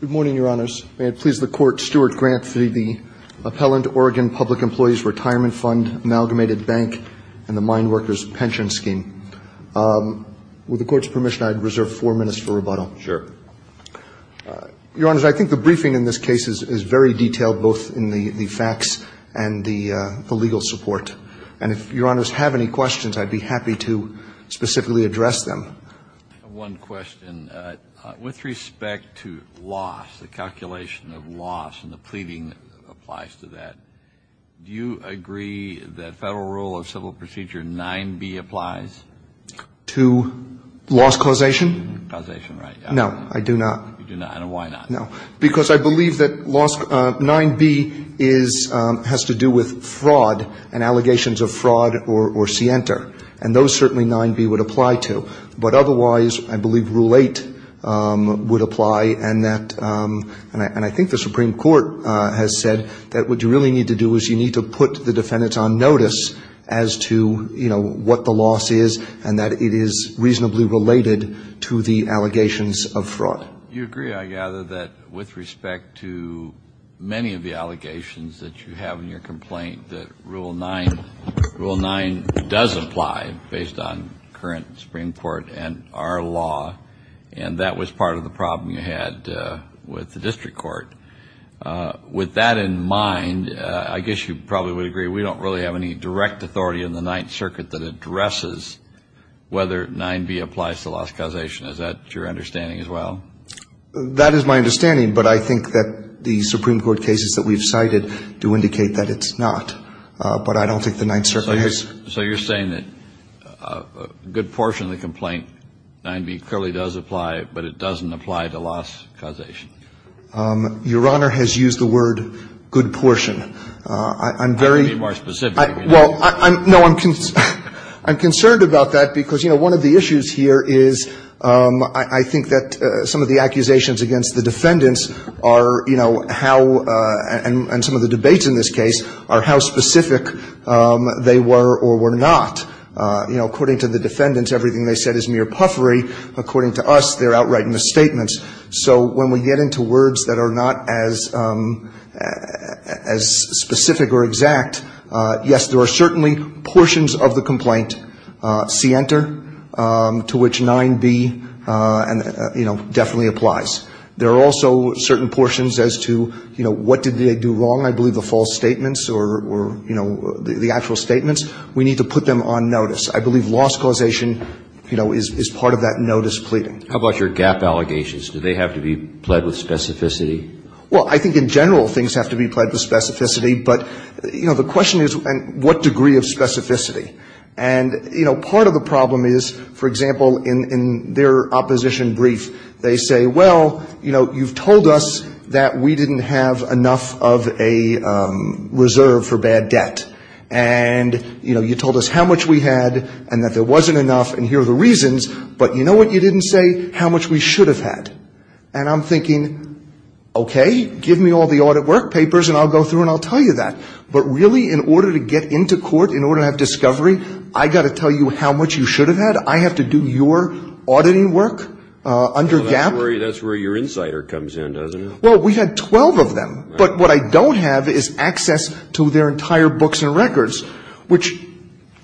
Good morning, Your Honors. May it please the Court, Stuart Grant v. the Appellant Oregon Public Employees Retirement Fund, Amalgamated Bank, and the Mine Workers Pension Scheme. With the Court's permission, I'd reserve four minutes for rebuttal. Sure. Your Honors, I think the briefing in this case is very detailed, both in the facts and the legal support. And if Your Honors have any questions, I'd be happy to specifically address them. I have one question. With respect to loss, the calculation of loss and the pleading applies to that, do you agree that Federal Rule of Civil Procedure 9b applies? To loss causation? Causation, right. No, I do not. You do not. And why not? No. Because I believe that 9b has to do with fraud and allegations of fraud or scienter. And those certainly 9b would apply to. But otherwise, I believe Rule 8 would apply. And that, and I think the Supreme Court has said that what you really need to do is you need to put the defendants on notice as to, you know, what the loss is and that it is reasonably related to the allegations of fraud. You agree, I gather, that with respect to many of the allegations that you have in your current Supreme Court and our law, and that was part of the problem you had with the district court. With that in mind, I guess you probably would agree we don't really have any direct authority in the Ninth Circuit that addresses whether 9b applies to loss causation. Is that your understanding as well? That is my understanding. But I think that the Supreme Court cases that we've cited do indicate that it's not. But I don't think the Ninth Circuit has. So you're saying that a good portion of the complaint, 9b clearly does apply, but it doesn't apply to loss causation. Your Honor has used the word good portion. I'm very. Be more specific. Well, no, I'm concerned about that because, you know, one of the issues here is I think that some of the accusations against the defendants are, you know, how and some of the or were not. You know, according to the defendants, everything they said is mere puffery. According to us, they're outright misstatements. So when we get into words that are not as as specific or exact, yes, there are certainly portions of the complaint, C enter, to which 9b, you know, definitely applies. There are also certain portions as to, you know, what did they do wrong? And I believe the false statements or, you know, the actual statements, we need to put them on notice. I believe loss causation, you know, is part of that notice pleading. How about your gap allegations? Do they have to be pled with specificity? Well, I think in general, things have to be pled with specificity. But, you know, the question is what degree of specificity? And, you know, part of the problem is, for example, in their opposition brief, they say, well, you know, you've told us that we didn't have enough of a reserve for bad debt. And, you know, you told us how much we had and that there wasn't enough. And here are the reasons. But you know what? You didn't say how much we should have had. And I'm thinking, OK, give me all the audit work papers and I'll go through and I'll tell you that. But really, in order to get into court, in order to have discovery, I got to tell you how much you should have had. And I have to do your auditing work under gap? That's where your insider comes in, doesn't it? Well, we had 12 of them. But what I don't have is access to their entire books and records, which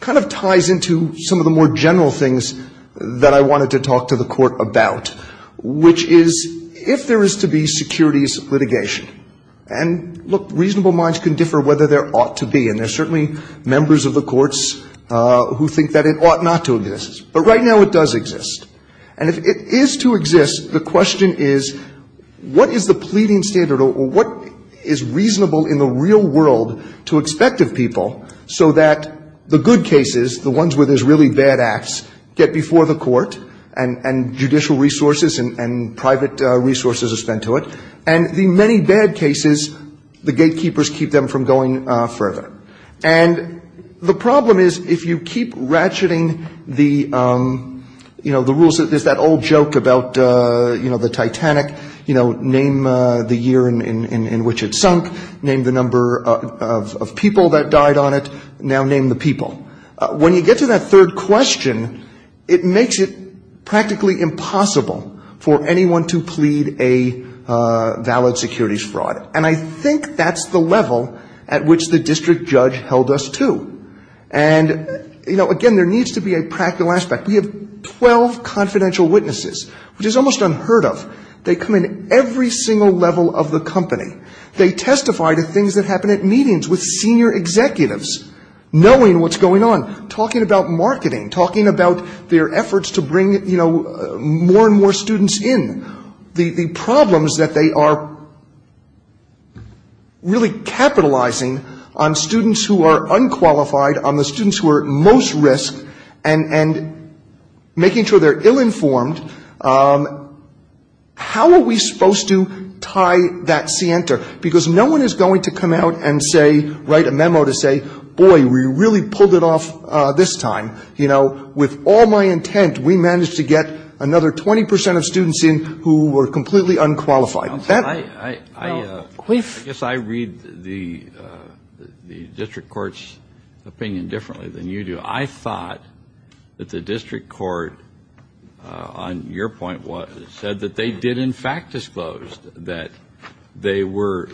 kind of ties into some of the more general things that I wanted to talk to the court about, which is if there is to be securities litigation. And look, reasonable minds can differ whether there ought to be. And there's certainly members of the courts who think that it ought not to exist. But right now it does exist. And if it is to exist, the question is, what is the pleading standard or what is reasonable in the real world to expect of people so that the good cases, the ones where there's really bad acts, get before the court and judicial resources and private resources are spent to it? And the many bad cases, the gatekeepers keep them from going further. And the problem is, if you keep ratcheting the, you know, the rules, there's that old joke about, you know, the Titanic, you know, name the year in which it sunk, name the number of people that died on it, now name the people. When you get to that third question, it makes it practically impossible for anyone to plead a valid securities fraud. And I think that's the level at which the district judge held us to. And, you know, again, there needs to be a practical aspect. We have 12 confidential witnesses, which is almost unheard of. They come in every single level of the company. They testify to things that happen at meetings with senior executives, knowing what's going on, talking about marketing, talking about their efforts to bring, you know, more and more students in. The problems that they are really capitalizing on students who are unqualified, on the students who are at most risk, and making sure they're ill-informed, how are we supposed to tie that scienter? Because no one is going to come out and say, write a memo to say, boy, we really pulled it off this time. You know, with all my intent, we managed to get another 20% of students in who were completely unqualified. That- I guess I read the district court's opinion differently than you do. I thought that the district court, on your point, said that they did, in fact, disclose that they were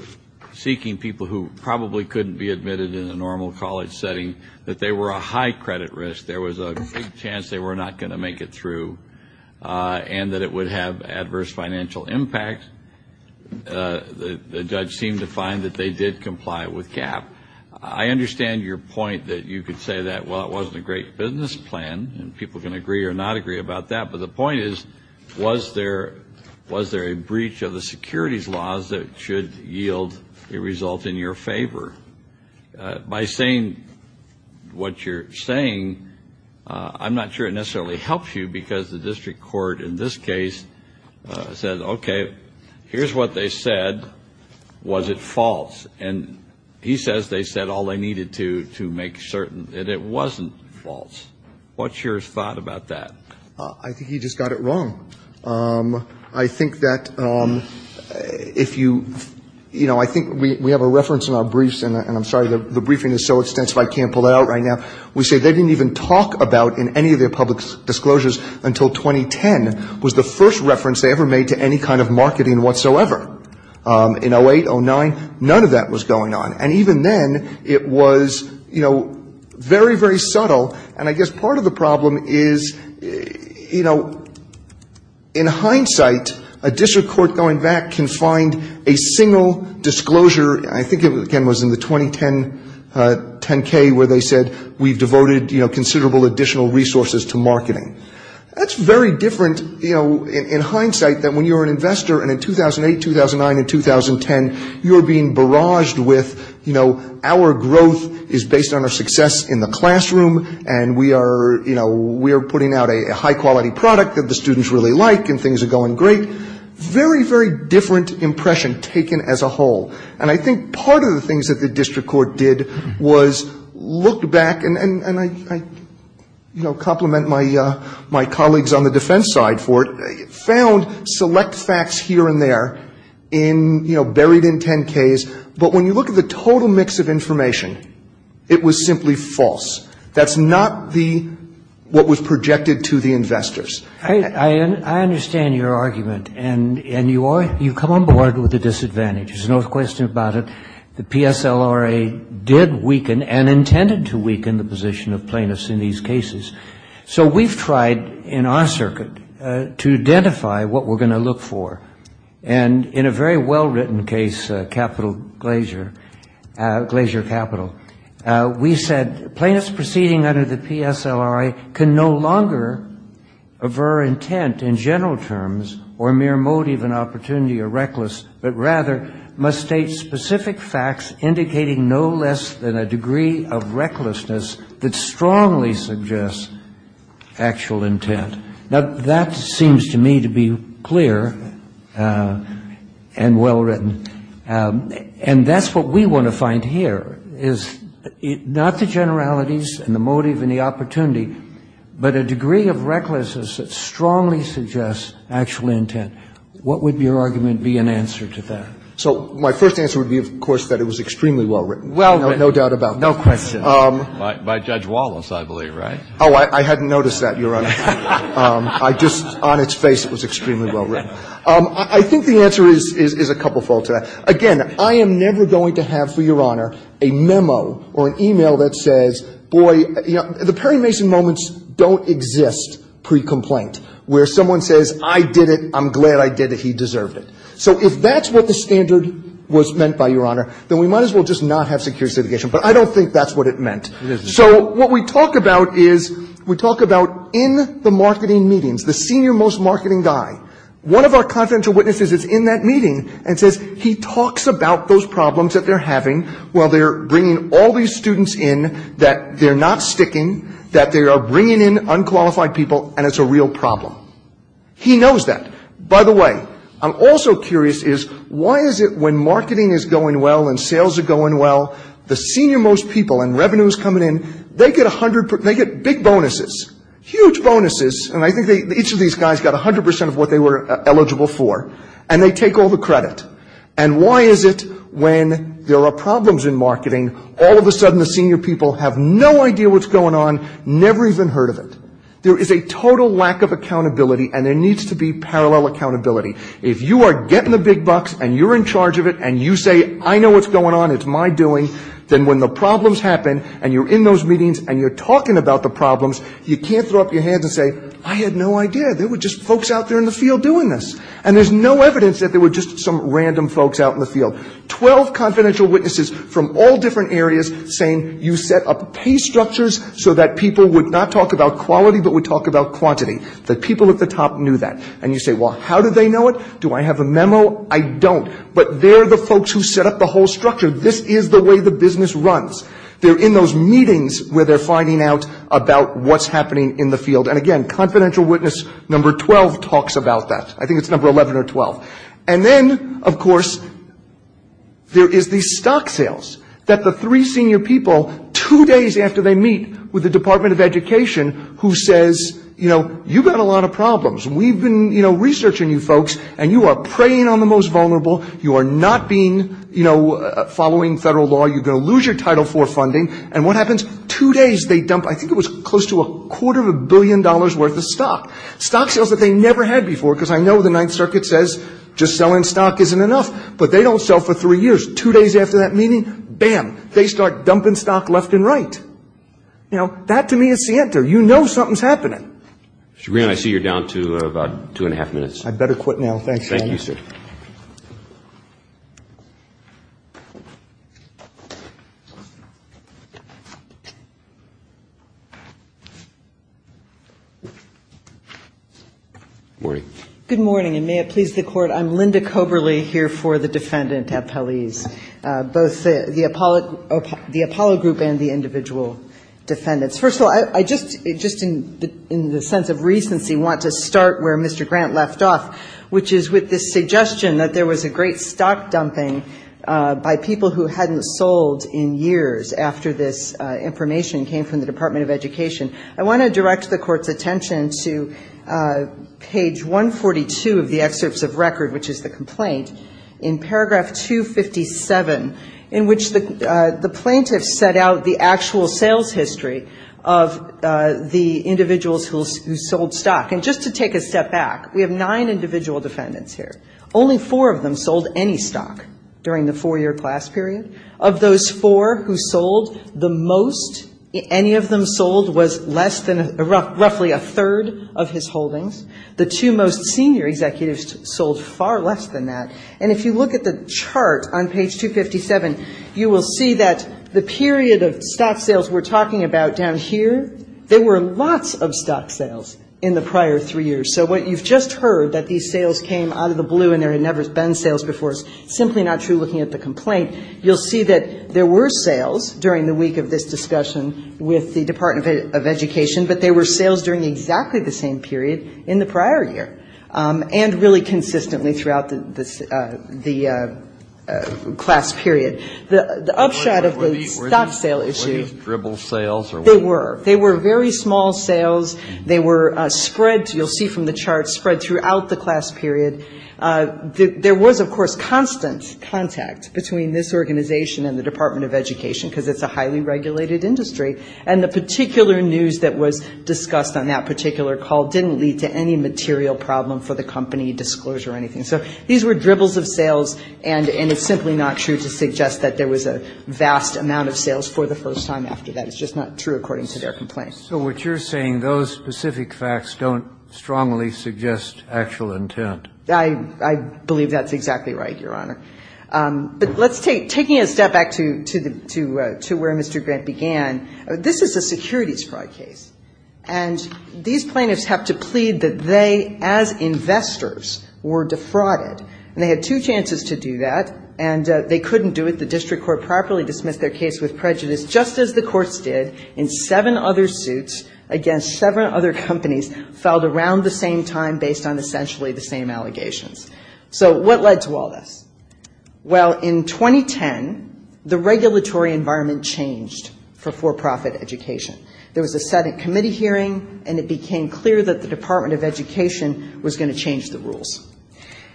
seeking people who probably couldn't be admitted in a normal college setting, that they were a high credit risk. There was a big chance they were not going to make it through, and that it would have adverse financial impact. The judge seemed to find that they did comply with GAAP. I understand your point that you could say that, well, it wasn't a great business plan, and people can agree or not agree about that. But the point is, was there a breach of the securities laws that should yield a result in your favor? By saying what you're saying, I'm not sure it necessarily helps you, because the district court in this case said, okay, here's what they said. Was it false? And he says they said all they needed to make certain that it wasn't false. What's your thought about that? I think he just got it wrong. I think that if you, you know, I think we have a reference in our briefs, and I'm sorry, the briefing is so extensive I can't pull it out right now. We say they didn't even talk about, in any of their public disclosures until 2010, was the first reference they ever made to any kind of marketing whatsoever. In 08, 09, none of that was going on. And even then, it was, you know, very, very subtle. And I guess part of the problem is, you know, in hindsight, a district court going back can find a single disclosure. I think it again was in the 2010K where they said we've devoted, you know, considerable additional resources to marketing. That's very different, you know, in hindsight than when you're an investor. And in 2008, 2009, and 2010, you're being barraged with, you know, our growth is based on our success in the classroom. And we are, you know, we are putting out a high-quality product that the students really like, and things are going great. Very, very different impression taken as a whole. And I think part of the things that the district court did was look back, and I, you know, compliment my colleagues on the defense side for it, found select facts here and there in, you know, buried in 10Ks. But when you look at the total mix of information, it was simply false. That's not the, what was projected to the investors. I understand your argument, and you come on board with the disadvantage. There's no question about it. The PSLRA did weaken and intended to weaken the position of plaintiffs in these cases. So we've tried in our circuit to identify what we're going to look for. And in a very well-written case, Capital Glacier, Glacier Capital, we said, plaintiffs proceeding under the PSLRA can no longer aver intent in general terms or mere motive and opportunity or reckless, but rather must state specific facts indicating no less than a degree of recklessness that strongly suggests actual intent. Now, that seems to me to be clear and well-written. And that's what we want to find here, is not the generalities and the motive and the opportunity, but a degree of recklessness that strongly suggests actual intent. What would your argument be in answer to that? So my first answer would be, of course, that it was extremely well-written. Well-written. No doubt about it. No question. By Judge Wallace, I believe, right? Oh, I hadn't noticed that, Your Honor. I just, on its face, it was extremely well-written. I think the answer is a couple-fold to that. Again, I am never going to have, for Your Honor, a memo or an e-mail that says, boy, you know, the Perry Mason moments don't exist pre-complaint, where someone says, I did it, I'm glad I did it, he deserved it. So if that's what the standard was meant by, Your Honor, then we might as well just not have security litigation. But I don't think that's what it meant. So what we talk about is, we talk about in the marketing meetings, the senior-most marketing guy, one of our confidential witnesses is in that meeting and says he talks about those problems that they're having while they're bringing all these students in that they're not sticking, that they are bringing in unqualified people, and it's a real problem. He knows that. By the way, I'm also curious is, why is it when marketing is going well and sales are going well, the senior-most people and revenues coming in, they get big bonuses, huge bonuses, and I think each of these guys got 100% of what they were eligible for, and they take all the credit. And why is it when there are problems in marketing, all of a sudden the senior people have no idea what's going on, never even heard of it? There is a total lack of accountability, and there needs to be parallel accountability. If you are getting the big bucks, and you're in charge of it, and you say, I know what's going on, it's my doing, then when the problems happen, and you're in those meetings, and you're talking about the problems, you can't throw up your hands and say, I had no idea, there were just folks out there in the field doing this. And there's no evidence that there were just some random folks out in the field. Twelve confidential witnesses from all different areas saying, you set up pay structures so that people would not talk about quality, but would talk about quantity, that people at the top knew that. And you say, well, how do they know it? Do I have a memo? I don't. But they're the folks who set up the whole structure. This is the way the business runs. They're in those meetings where they're finding out about what's happening in the field. And again, confidential witness number 12 talks about that. I think it's number 11 or 12. And then, of course, there is the stock sales that the three senior people, two days after they meet with the Department of Education, who says, you know, you've got a lot of problems. We've been, you know, researching you folks, and you are preying on the most vulnerable. You are not being, you know, following federal law. You're going to lose your Title IV funding. And what happens? Two days, they dump, I think it was close to a quarter of a billion dollars worth of stock. Stock sales that they never had before, because I know the Ninth Circuit says just selling stock isn't enough. But they don't sell for three years. Two days after that meeting, bam, they start dumping stock left and right. Now, that to me is Sienta. You know something's happening. Shabrin, I see you're down to about two and a half minutes. I'd better quit now. Thanks. Thank you, sir. Good morning. Good morning, and may it please the Court. I'm Linda Coberly here for the defendant appellees, both the Apollo group and the individual defendants. First of all, I just, in the sense of recency, want to start where Mr. Grant left off, which is with this suggestion that there was a great stock dumping by people who hadn't sold in years after this information came from the Department of Education. I want to direct the Court's attention to page 142 of the excerpts of record, which is the complaint, in paragraph 257, in which the plaintiffs set out the actual sales history of the individuals who sold stock. And just to take a step back, we have nine individual defendants here. Only four of them sold any stock during the four-year class period. Of those four who sold, the most any of them sold was less than roughly a third of his holdings. The two most senior executives sold far less than that. And if you look at the chart on page 257, you will see that the period of stock sales we're talking about down here, there were lots of stock sales in the prior three years. So what you've just heard, that these sales came out of the blue and there had never been sales before, is simply not true looking at the complaint. You'll see that there were sales during the week of this discussion with the Department of Education, but they were sales during exactly the same period in the prior year and really consistently throughout the class period. The upshot of the stock sale issue they were, they were very small sales. They were spread, you'll see from the chart, spread throughout the class period. There was, of course, constant contact between this organization and the Department of Education because it's a highly regulated industry. And the particular news that was discussed on that particular call didn't lead to any material problem for the company, disclosure or anything. So these were dribbles of sales and it's simply not true to suggest that there was a vast amount of sales for the first time after that. It's just not true according to their complaint. So what you're saying, those specific facts don't strongly suggest actual intent. I believe that's exactly right, Your Honor. But let's take, taking a step back to where Mr. Grant began, this is a securities fraud case. And these plaintiffs have to plead that they, as investors, were defrauded. And they had two chances to do that and they couldn't do it. The District Court properly dismissed their case with prejudice just as the courts did in seven other suits against seven other companies filed around the same time based on essentially the same allegations. So what led to all this? Well, in 2010, the regulatory environment changed for for-profit education. There was a Senate committee hearing and it became clear that the Department of Education was going to change the rules.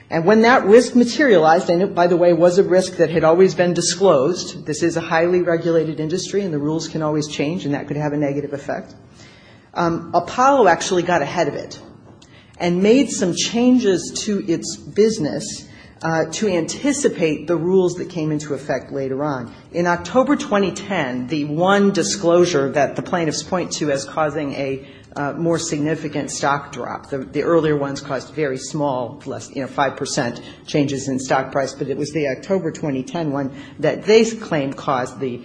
And when that risk materialized, and it, by the way, was a risk that had always been disclosed, this is a highly regulated industry and the rules can always change and that could have a negative effect. Apollo actually got ahead of it and made some changes to its business to anticipate the rules that came into effect later on. In October 2010, the one disclosure that the plaintiffs point to as causing a more significant stock drop, the earlier ones caused very small, you know, 5 percent changes in stock price, but it was the October 2010 one that they claim caused the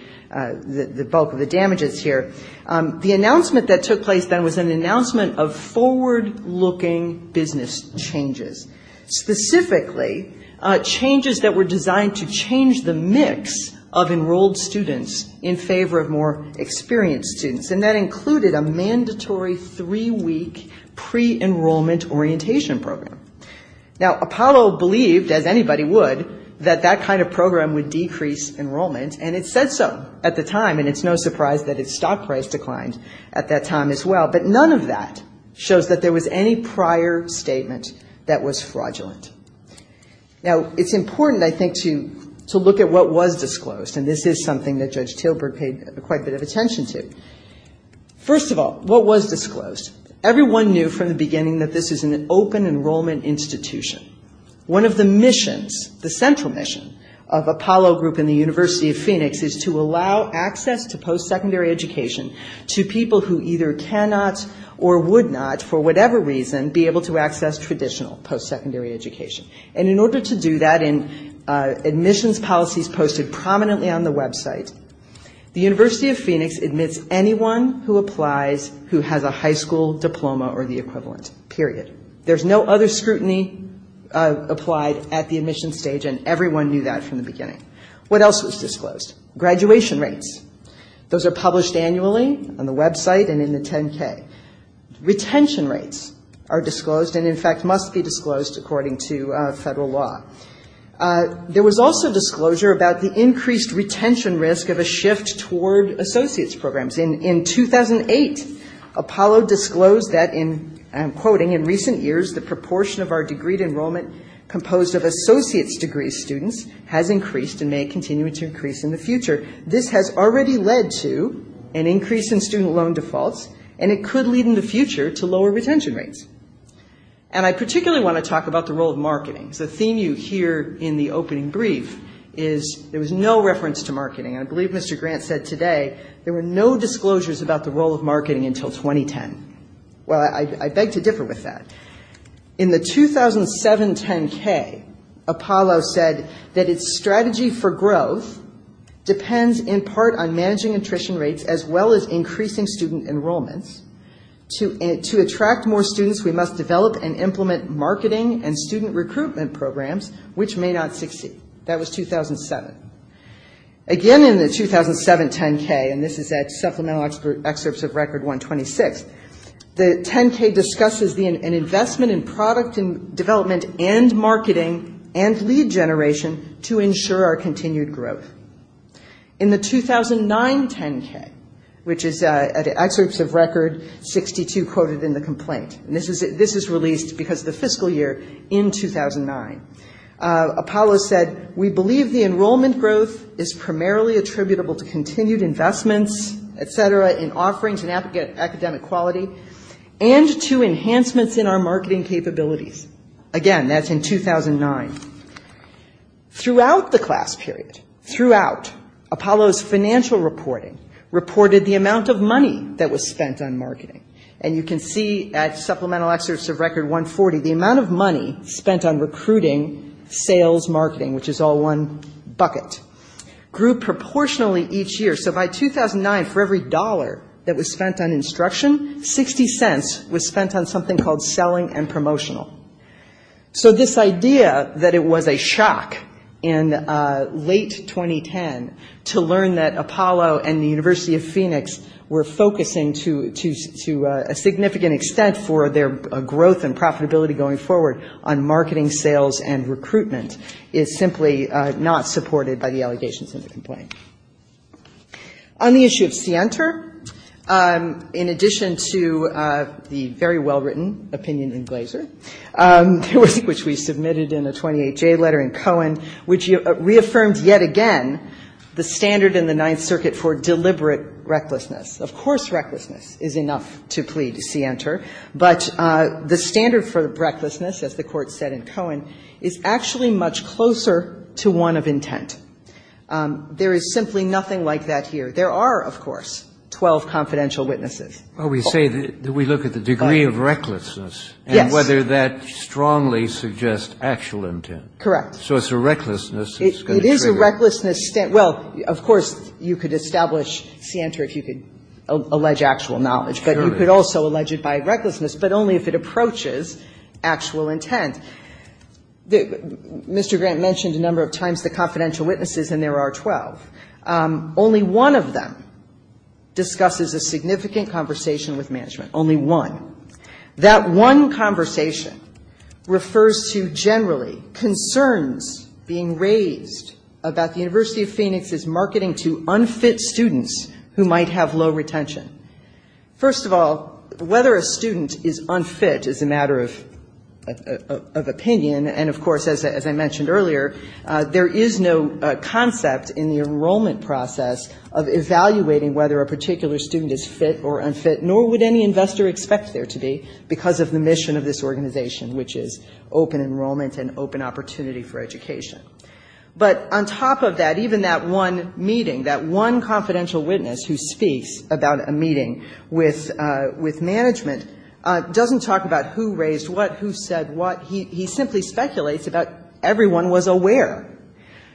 bulk of the damages here. The announcement that took place then was an announcement of forward-looking business changes, specifically changes that were designed to change the mix of enrolled students in favor of more experienced students. And that included a mandatory three-week pre-enrollment orientation program. Now, Apollo believed, as anybody would, that that kind of program would decrease enrollment, and it said so at the time, and it's no surprise that its stock price declined at that time as well. But none of that shows that there was any prior statement that was fraudulent. Now, it's important, I think, to look at what was disclosed, and this is something that Judge Tilburg paid quite a bit of attention to. First of all, what was disclosed? Everyone knew from the beginning that this is an open enrollment institution. One of the missions, the central mission of Apollo Group and the University of Phoenix, is to allow access to post-secondary education to people who either cannot or would not, for whatever reason, be able to access traditional post-secondary education. And in order to do that, and admissions policies posted prominently on the website, the University of Phoenix admits anyone who applies who has a high school diploma or the equivalent, period. There's no other scrutiny applied at the admission stage, and everyone knew that from the beginning. What else was disclosed? Graduation rates. Those are published annually on the website and in the 10-K. Retention rates are disclosed and, in fact, must be disclosed according to federal law. There was also disclosure about the increased retention risk of a shift toward associate's programs. In 2008, Apollo disclosed that, and I'm quoting, in recent years the proportion of our degree enrollment composed of associate's degree students has increased and may continue to increase in the future. This has already led to an increase in student loan defaults, and it could lead in the future to lower retention rates. And I particularly want to talk about the role of marketing. The theme you hear in the opening brief is there was no reference to marketing. I believe Mr. Grant said today there were no disclosures about the role of marketing until 2010. Well, I beg to differ with that. In the 2007 10-K, Apollo said that its strategy for growth depends in part on managing attrition rates as well as increasing student enrollments. To attract more students, we must develop and implement marketing and student recruitment programs, which may not succeed. That was 2007. Again in the 2007 10-K, and this is at supplemental excerpts of Record 126, the 10-K discusses an investment in product and development and marketing and lead generation to ensure our continued growth. In the 2009 10-K, which is at excerpts of Record 62 quoted in the complaint, and this is released because of the fiscal year in 2009, Apollo said we believe the enrollment growth is primarily attributable to continued investments, et cetera, in offerings and academic quality and to enhancements in our marketing capabilities. Again, that's in 2009. Throughout the class period, throughout, Apollo's financial reporting reported the amount of money that was spent on marketing. And you can see at supplemental excerpts of Record 140, the amount of money spent on recruiting, sales, marketing, which is all one bucket, grew proportionally each year. So by 2009, for every dollar that was spent on instruction, $0.60 was spent on something called selling and promotional. So this idea that it was a shock in late 2010 to learn that Apollo and the University of Phoenix were focusing to a significant extent for their growth and profitability going forward on marketing, sales, is simply not supported by the allegations in the complaint. On the issue of Sienter, in addition to the very well-written opinion in Glaser, which we submitted in a 28-J letter in Cohen, which reaffirmed yet again the standard in the Ninth Circuit for deliberate recklessness. Of course, recklessness is enough to plead Sienter, but the standard for recklessness, as the Court said in Cohen, is actually much closer to one of intent. There is simply nothing like that here. There are, of course, 12 confidential witnesses. Well, we say that we look at the degree of recklessness. Yes. And whether that strongly suggests actual intent. Correct. So it's a recklessness that's going to trigger. It is a recklessness. Well, of course, you could establish Sienter if you could allege actual knowledge. But you could also allege it by recklessness, but only if it approaches actual intent. Mr. Grant mentioned a number of times the confidential witnesses, and there are 12. Only one of them discusses a significant conversation with management. Only one. That one conversation refers to generally concerns being raised about the University of Phoenix's marketing to unfit students who might have low retention. First of all, whether a student is unfit is a matter of opinion. And, of course, as I mentioned earlier, there is no concept in the enrollment process of evaluating whether a particular student is fit or unfit, nor would any investor expect there to be, because of the mission of this organization, which is open enrollment and open opportunity for education. But on top of that, even that one meeting, that one confidential witness who speaks about a meeting with management doesn't talk about who raised what, who said what. He simply speculates about everyone was aware.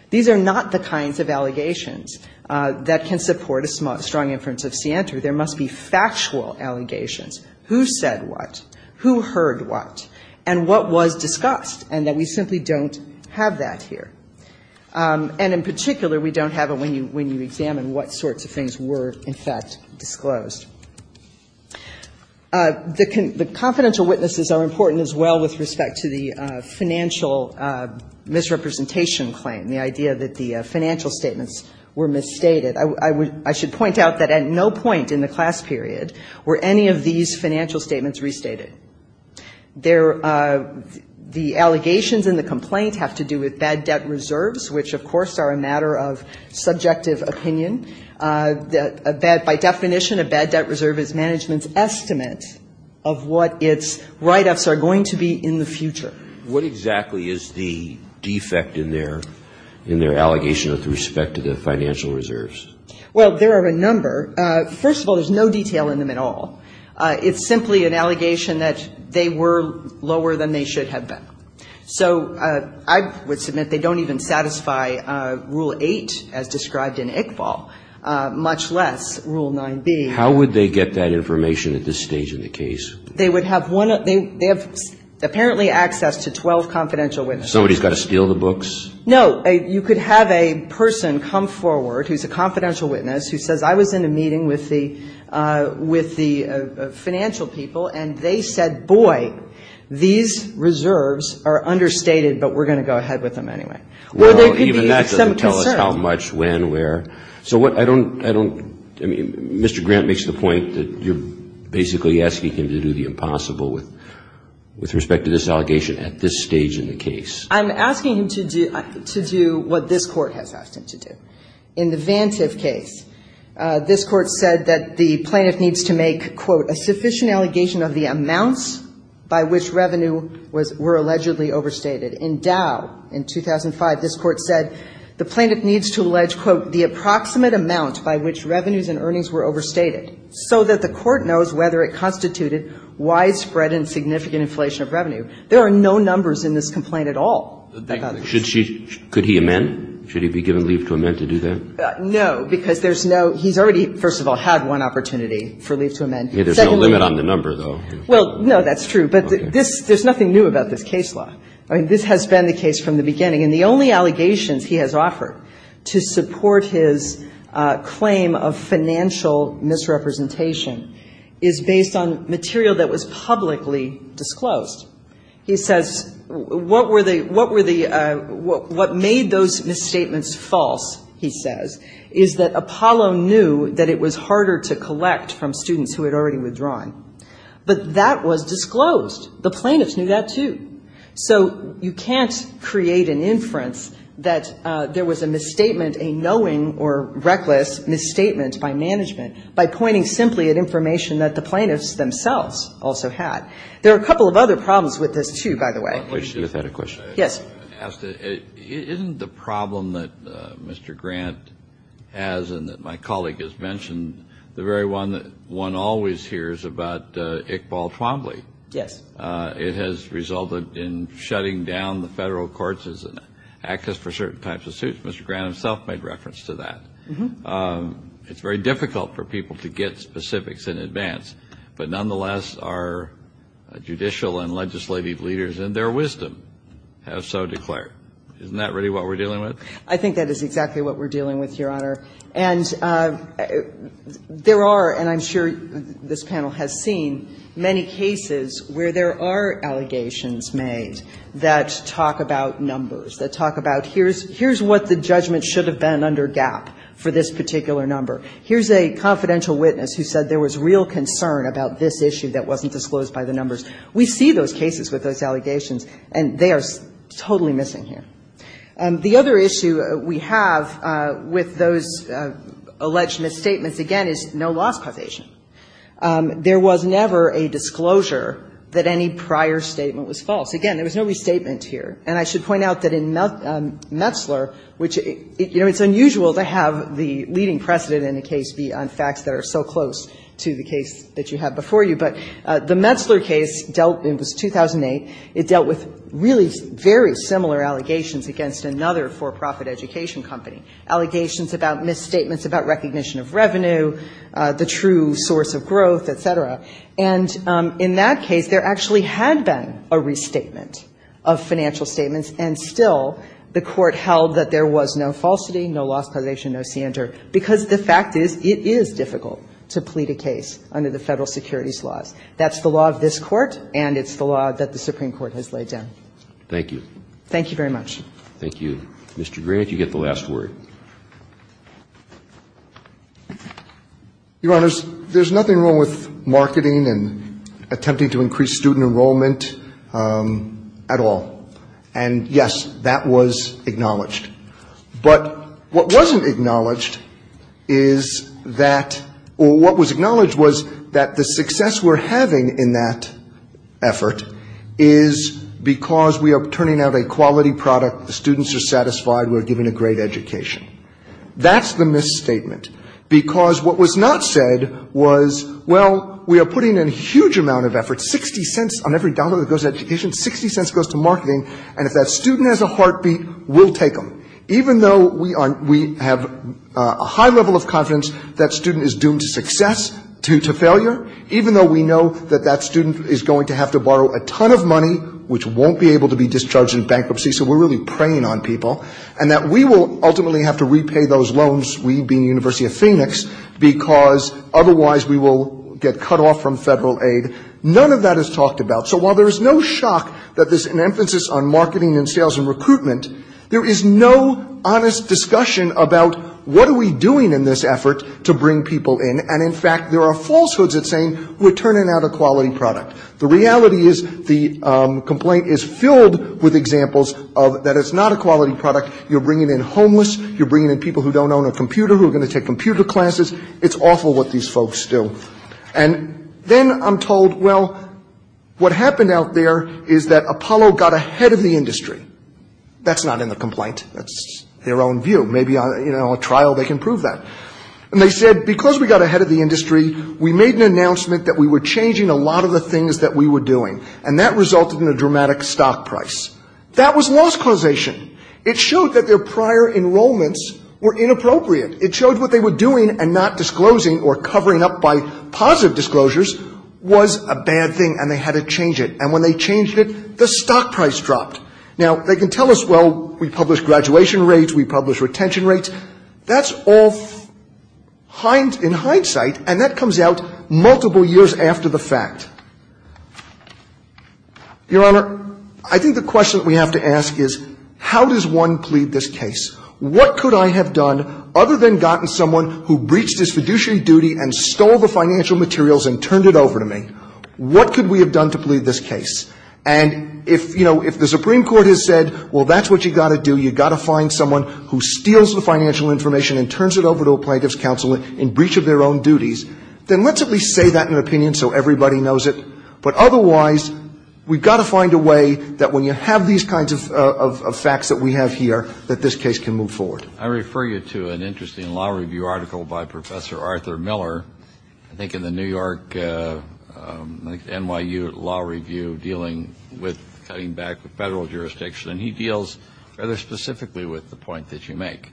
These are not the kinds of allegations that can support a strong inference of Sienter. There must be factual allegations, who said what, who heard what, and what was discussed, and that we simply don't have that here. And in particular, we don't have it when you examine what sorts of things were, in fact, disclosed. The confidential witnesses are important as well with respect to the financial misrepresentation claim, the idea that the financial statements were misstated. I should point out that at no point in the class period were any of these financial statements restated. The allegations in the complaint have to do with bad debt reserves, which of course are a matter of subjective opinion. By definition, a bad debt reserve is management's estimate of what its write-ups are going to be in the future. What exactly is the defect in their allegation with respect to the financial reserves? Well, there are a number. First of all, there's no detail in them at all. It's simply an allegation that they were lower than they should have been. So I would submit they don't even satisfy Rule 8 as described in Iqbal, much less Rule 9b. How would they get that information at this stage in the case? They would have one of the they have apparently access to 12 confidential witnesses. Somebody's got to steal the books? No. You could have a person come forward who's a confidential witness who says, I was in a meeting with the financial people, and they said, boy, these reserves are understated, but we're going to go ahead with them anyway. Well, even that doesn't tell us how much, when, where. So what I don't, I mean, Mr. Grant makes the point that you're basically asking him to do the impossible with respect to this allegation at this stage in the case. I'm asking him to do what this Court has asked him to do. In the Vantive case, this Court said that the plaintiff needs to make, quote, a sufficient allegation of the amounts by which revenue was, were allegedly overstated. In Dow in 2005, this Court said the plaintiff needs to allege, quote, the approximate amount by which revenues and earnings were overstated so that the Court knows whether it constituted widespread and significant inflation of revenue. There are no numbers in this complaint at all. Could he amend? Should he be given leave to amend to do that? No, because there's no, he's already, first of all, had one opportunity for leave to amend. There's no limit on the number, though. Well, no, that's true. But this, there's nothing new about this case law. I mean, this has been the case from the beginning. And the only allegations he has offered to support his claim of financial misrepresentation is based on material that was publicly disclosed. He says, what were the, what were the, what made those misstatements false, he says, is that Apollo knew that it was harder to collect from students who had already withdrawn. But that was disclosed. The plaintiffs knew that, too. So you can't create an inference that there was a misstatement, a knowing or reckless misstatement by management by pointing simply at information that the plaintiffs themselves also had. There are a couple of other problems with this, too, by the way. I have a question. Yes. Isn't the problem that Mr. Grant has and that my colleague has mentioned the very one that one always hears about Iqbal Twombly? Yes. It has resulted in shutting down the Federal Courts' access for certain types of suits. Mr. Grant himself made reference to that. It's very difficult for people to get specifics in advance. But nonetheless, our judicial and legislative leaders in their wisdom have so declared. Isn't that really what we're dealing with? I think that is exactly what we're dealing with, Your Honor. And there are, and I'm sure this panel has seen, many cases where there are allegations made that talk about numbers, that talk about here's what the judgment should have been under GAP for this particular number. Here's a confidential witness who said there was real concern about this issue that wasn't disclosed by the numbers. We see those cases with those allegations, and they are totally missing here. The other issue we have with those alleged misstatements, again, is no loss causation. There was never a disclosure that any prior statement was false. Again, there was no restatement here. And I should point out that in Metzler, which, you know, it's unusual to have the leading precedent in a case be on facts that are so close to the case that you have before you. But the Metzler case dealt, it was 2008, it dealt with really very similar allegations against another for-profit education company, allegations about misstatements, about recognition of revenue, the true source of growth, et cetera. And in that case, there actually had been a restatement of financial statements, and still the Court held that there was no falsity, no loss causation, no scienter, because the fact is it is difficult to plead a case under the Federal securities laws. That's the law of this Court, and it's the law that the Supreme Court has laid down. Thank you. Thank you very much. Thank you. Mr. Grant, you get the last word. Your Honors, there's nothing wrong with marketing and attempting to increase student enrollment at all. And, yes, that was acknowledged. But what wasn't acknowledged is that or what was acknowledged was that the success we're having in that effort is because we are turning out a quality product, the students are satisfied, we're giving a great education. That's the misstatement. Because what was not said was, well, we are putting in a huge amount of effort, $0.60 on every dollar that goes to education, $0.60 goes to marketing, and if that student has a heartbeat, we'll take them. Even though we have a high level of confidence that student is doomed to success, to failure, even though we know that that student is going to have to borrow a ton of money, which won't be able to be discharged in bankruptcy, so we're really preying on people, and that we will ultimately have to repay those loans, we being University of Phoenix, because otherwise we will get cut off from federal aid. None of that is talked about. So while there is no shock that there's an emphasis on marketing and sales and recruitment, there is no honest discussion about what are we doing in this effort to bring people in, and, in fact, there are falsehoods at saying we're turning out a quality product. The reality is the complaint is filled with examples of that it's not a quality product, you're bringing in homeless, you're bringing in people who don't own a computer classes, it's awful what these folks do. And then I'm told, well, what happened out there is that Apollo got ahead of the industry. That's not in the complaint. That's their own view. Maybe in a trial they can prove that. And they said, because we got ahead of the industry, we made an announcement that we were changing a lot of the things that we were doing, and that resulted in a dramatic stock price. That was loss causation. It showed that their prior enrollments were inappropriate. It showed what they were doing and not disclosing or covering up by positive disclosures was a bad thing, and they had to change it. And when they changed it, the stock price dropped. Now, they can tell us, well, we publish graduation rates, we publish retention rates. That's all in hindsight, and that comes out multiple years after the fact. Your Honor, I think the question we have to ask is how does one plead this case? What could I have done other than gotten someone who breached his fiduciary duty and stole the financial materials and turned it over to me? What could we have done to plead this case? And if, you know, if the Supreme Court has said, well, that's what you've got to do, you've got to find someone who steals the financial information and turns it over to a plaintiff's counsel in breach of their own duties, then let's at least say that in an opinion so everybody knows it. But otherwise, we've got to find a way that when you have these kinds of facts that we have here that this case can move forward. I refer you to an interesting law review article by Professor Arthur Miller, I think in the New York, NYU Law Review, dealing with cutting back the Federal jurisdiction, and he deals rather specifically with the point that you make.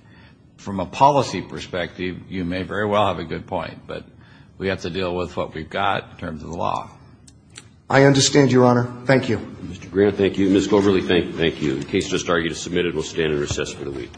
From a policy perspective, you may very well have a good point, but we have to deal with what we've got in terms of the law. I understand, Your Honor. Thank you. Mr. Grant, thank you. Ms. Goverly, thank you. The case just argued and submitted will stand in recess for the week.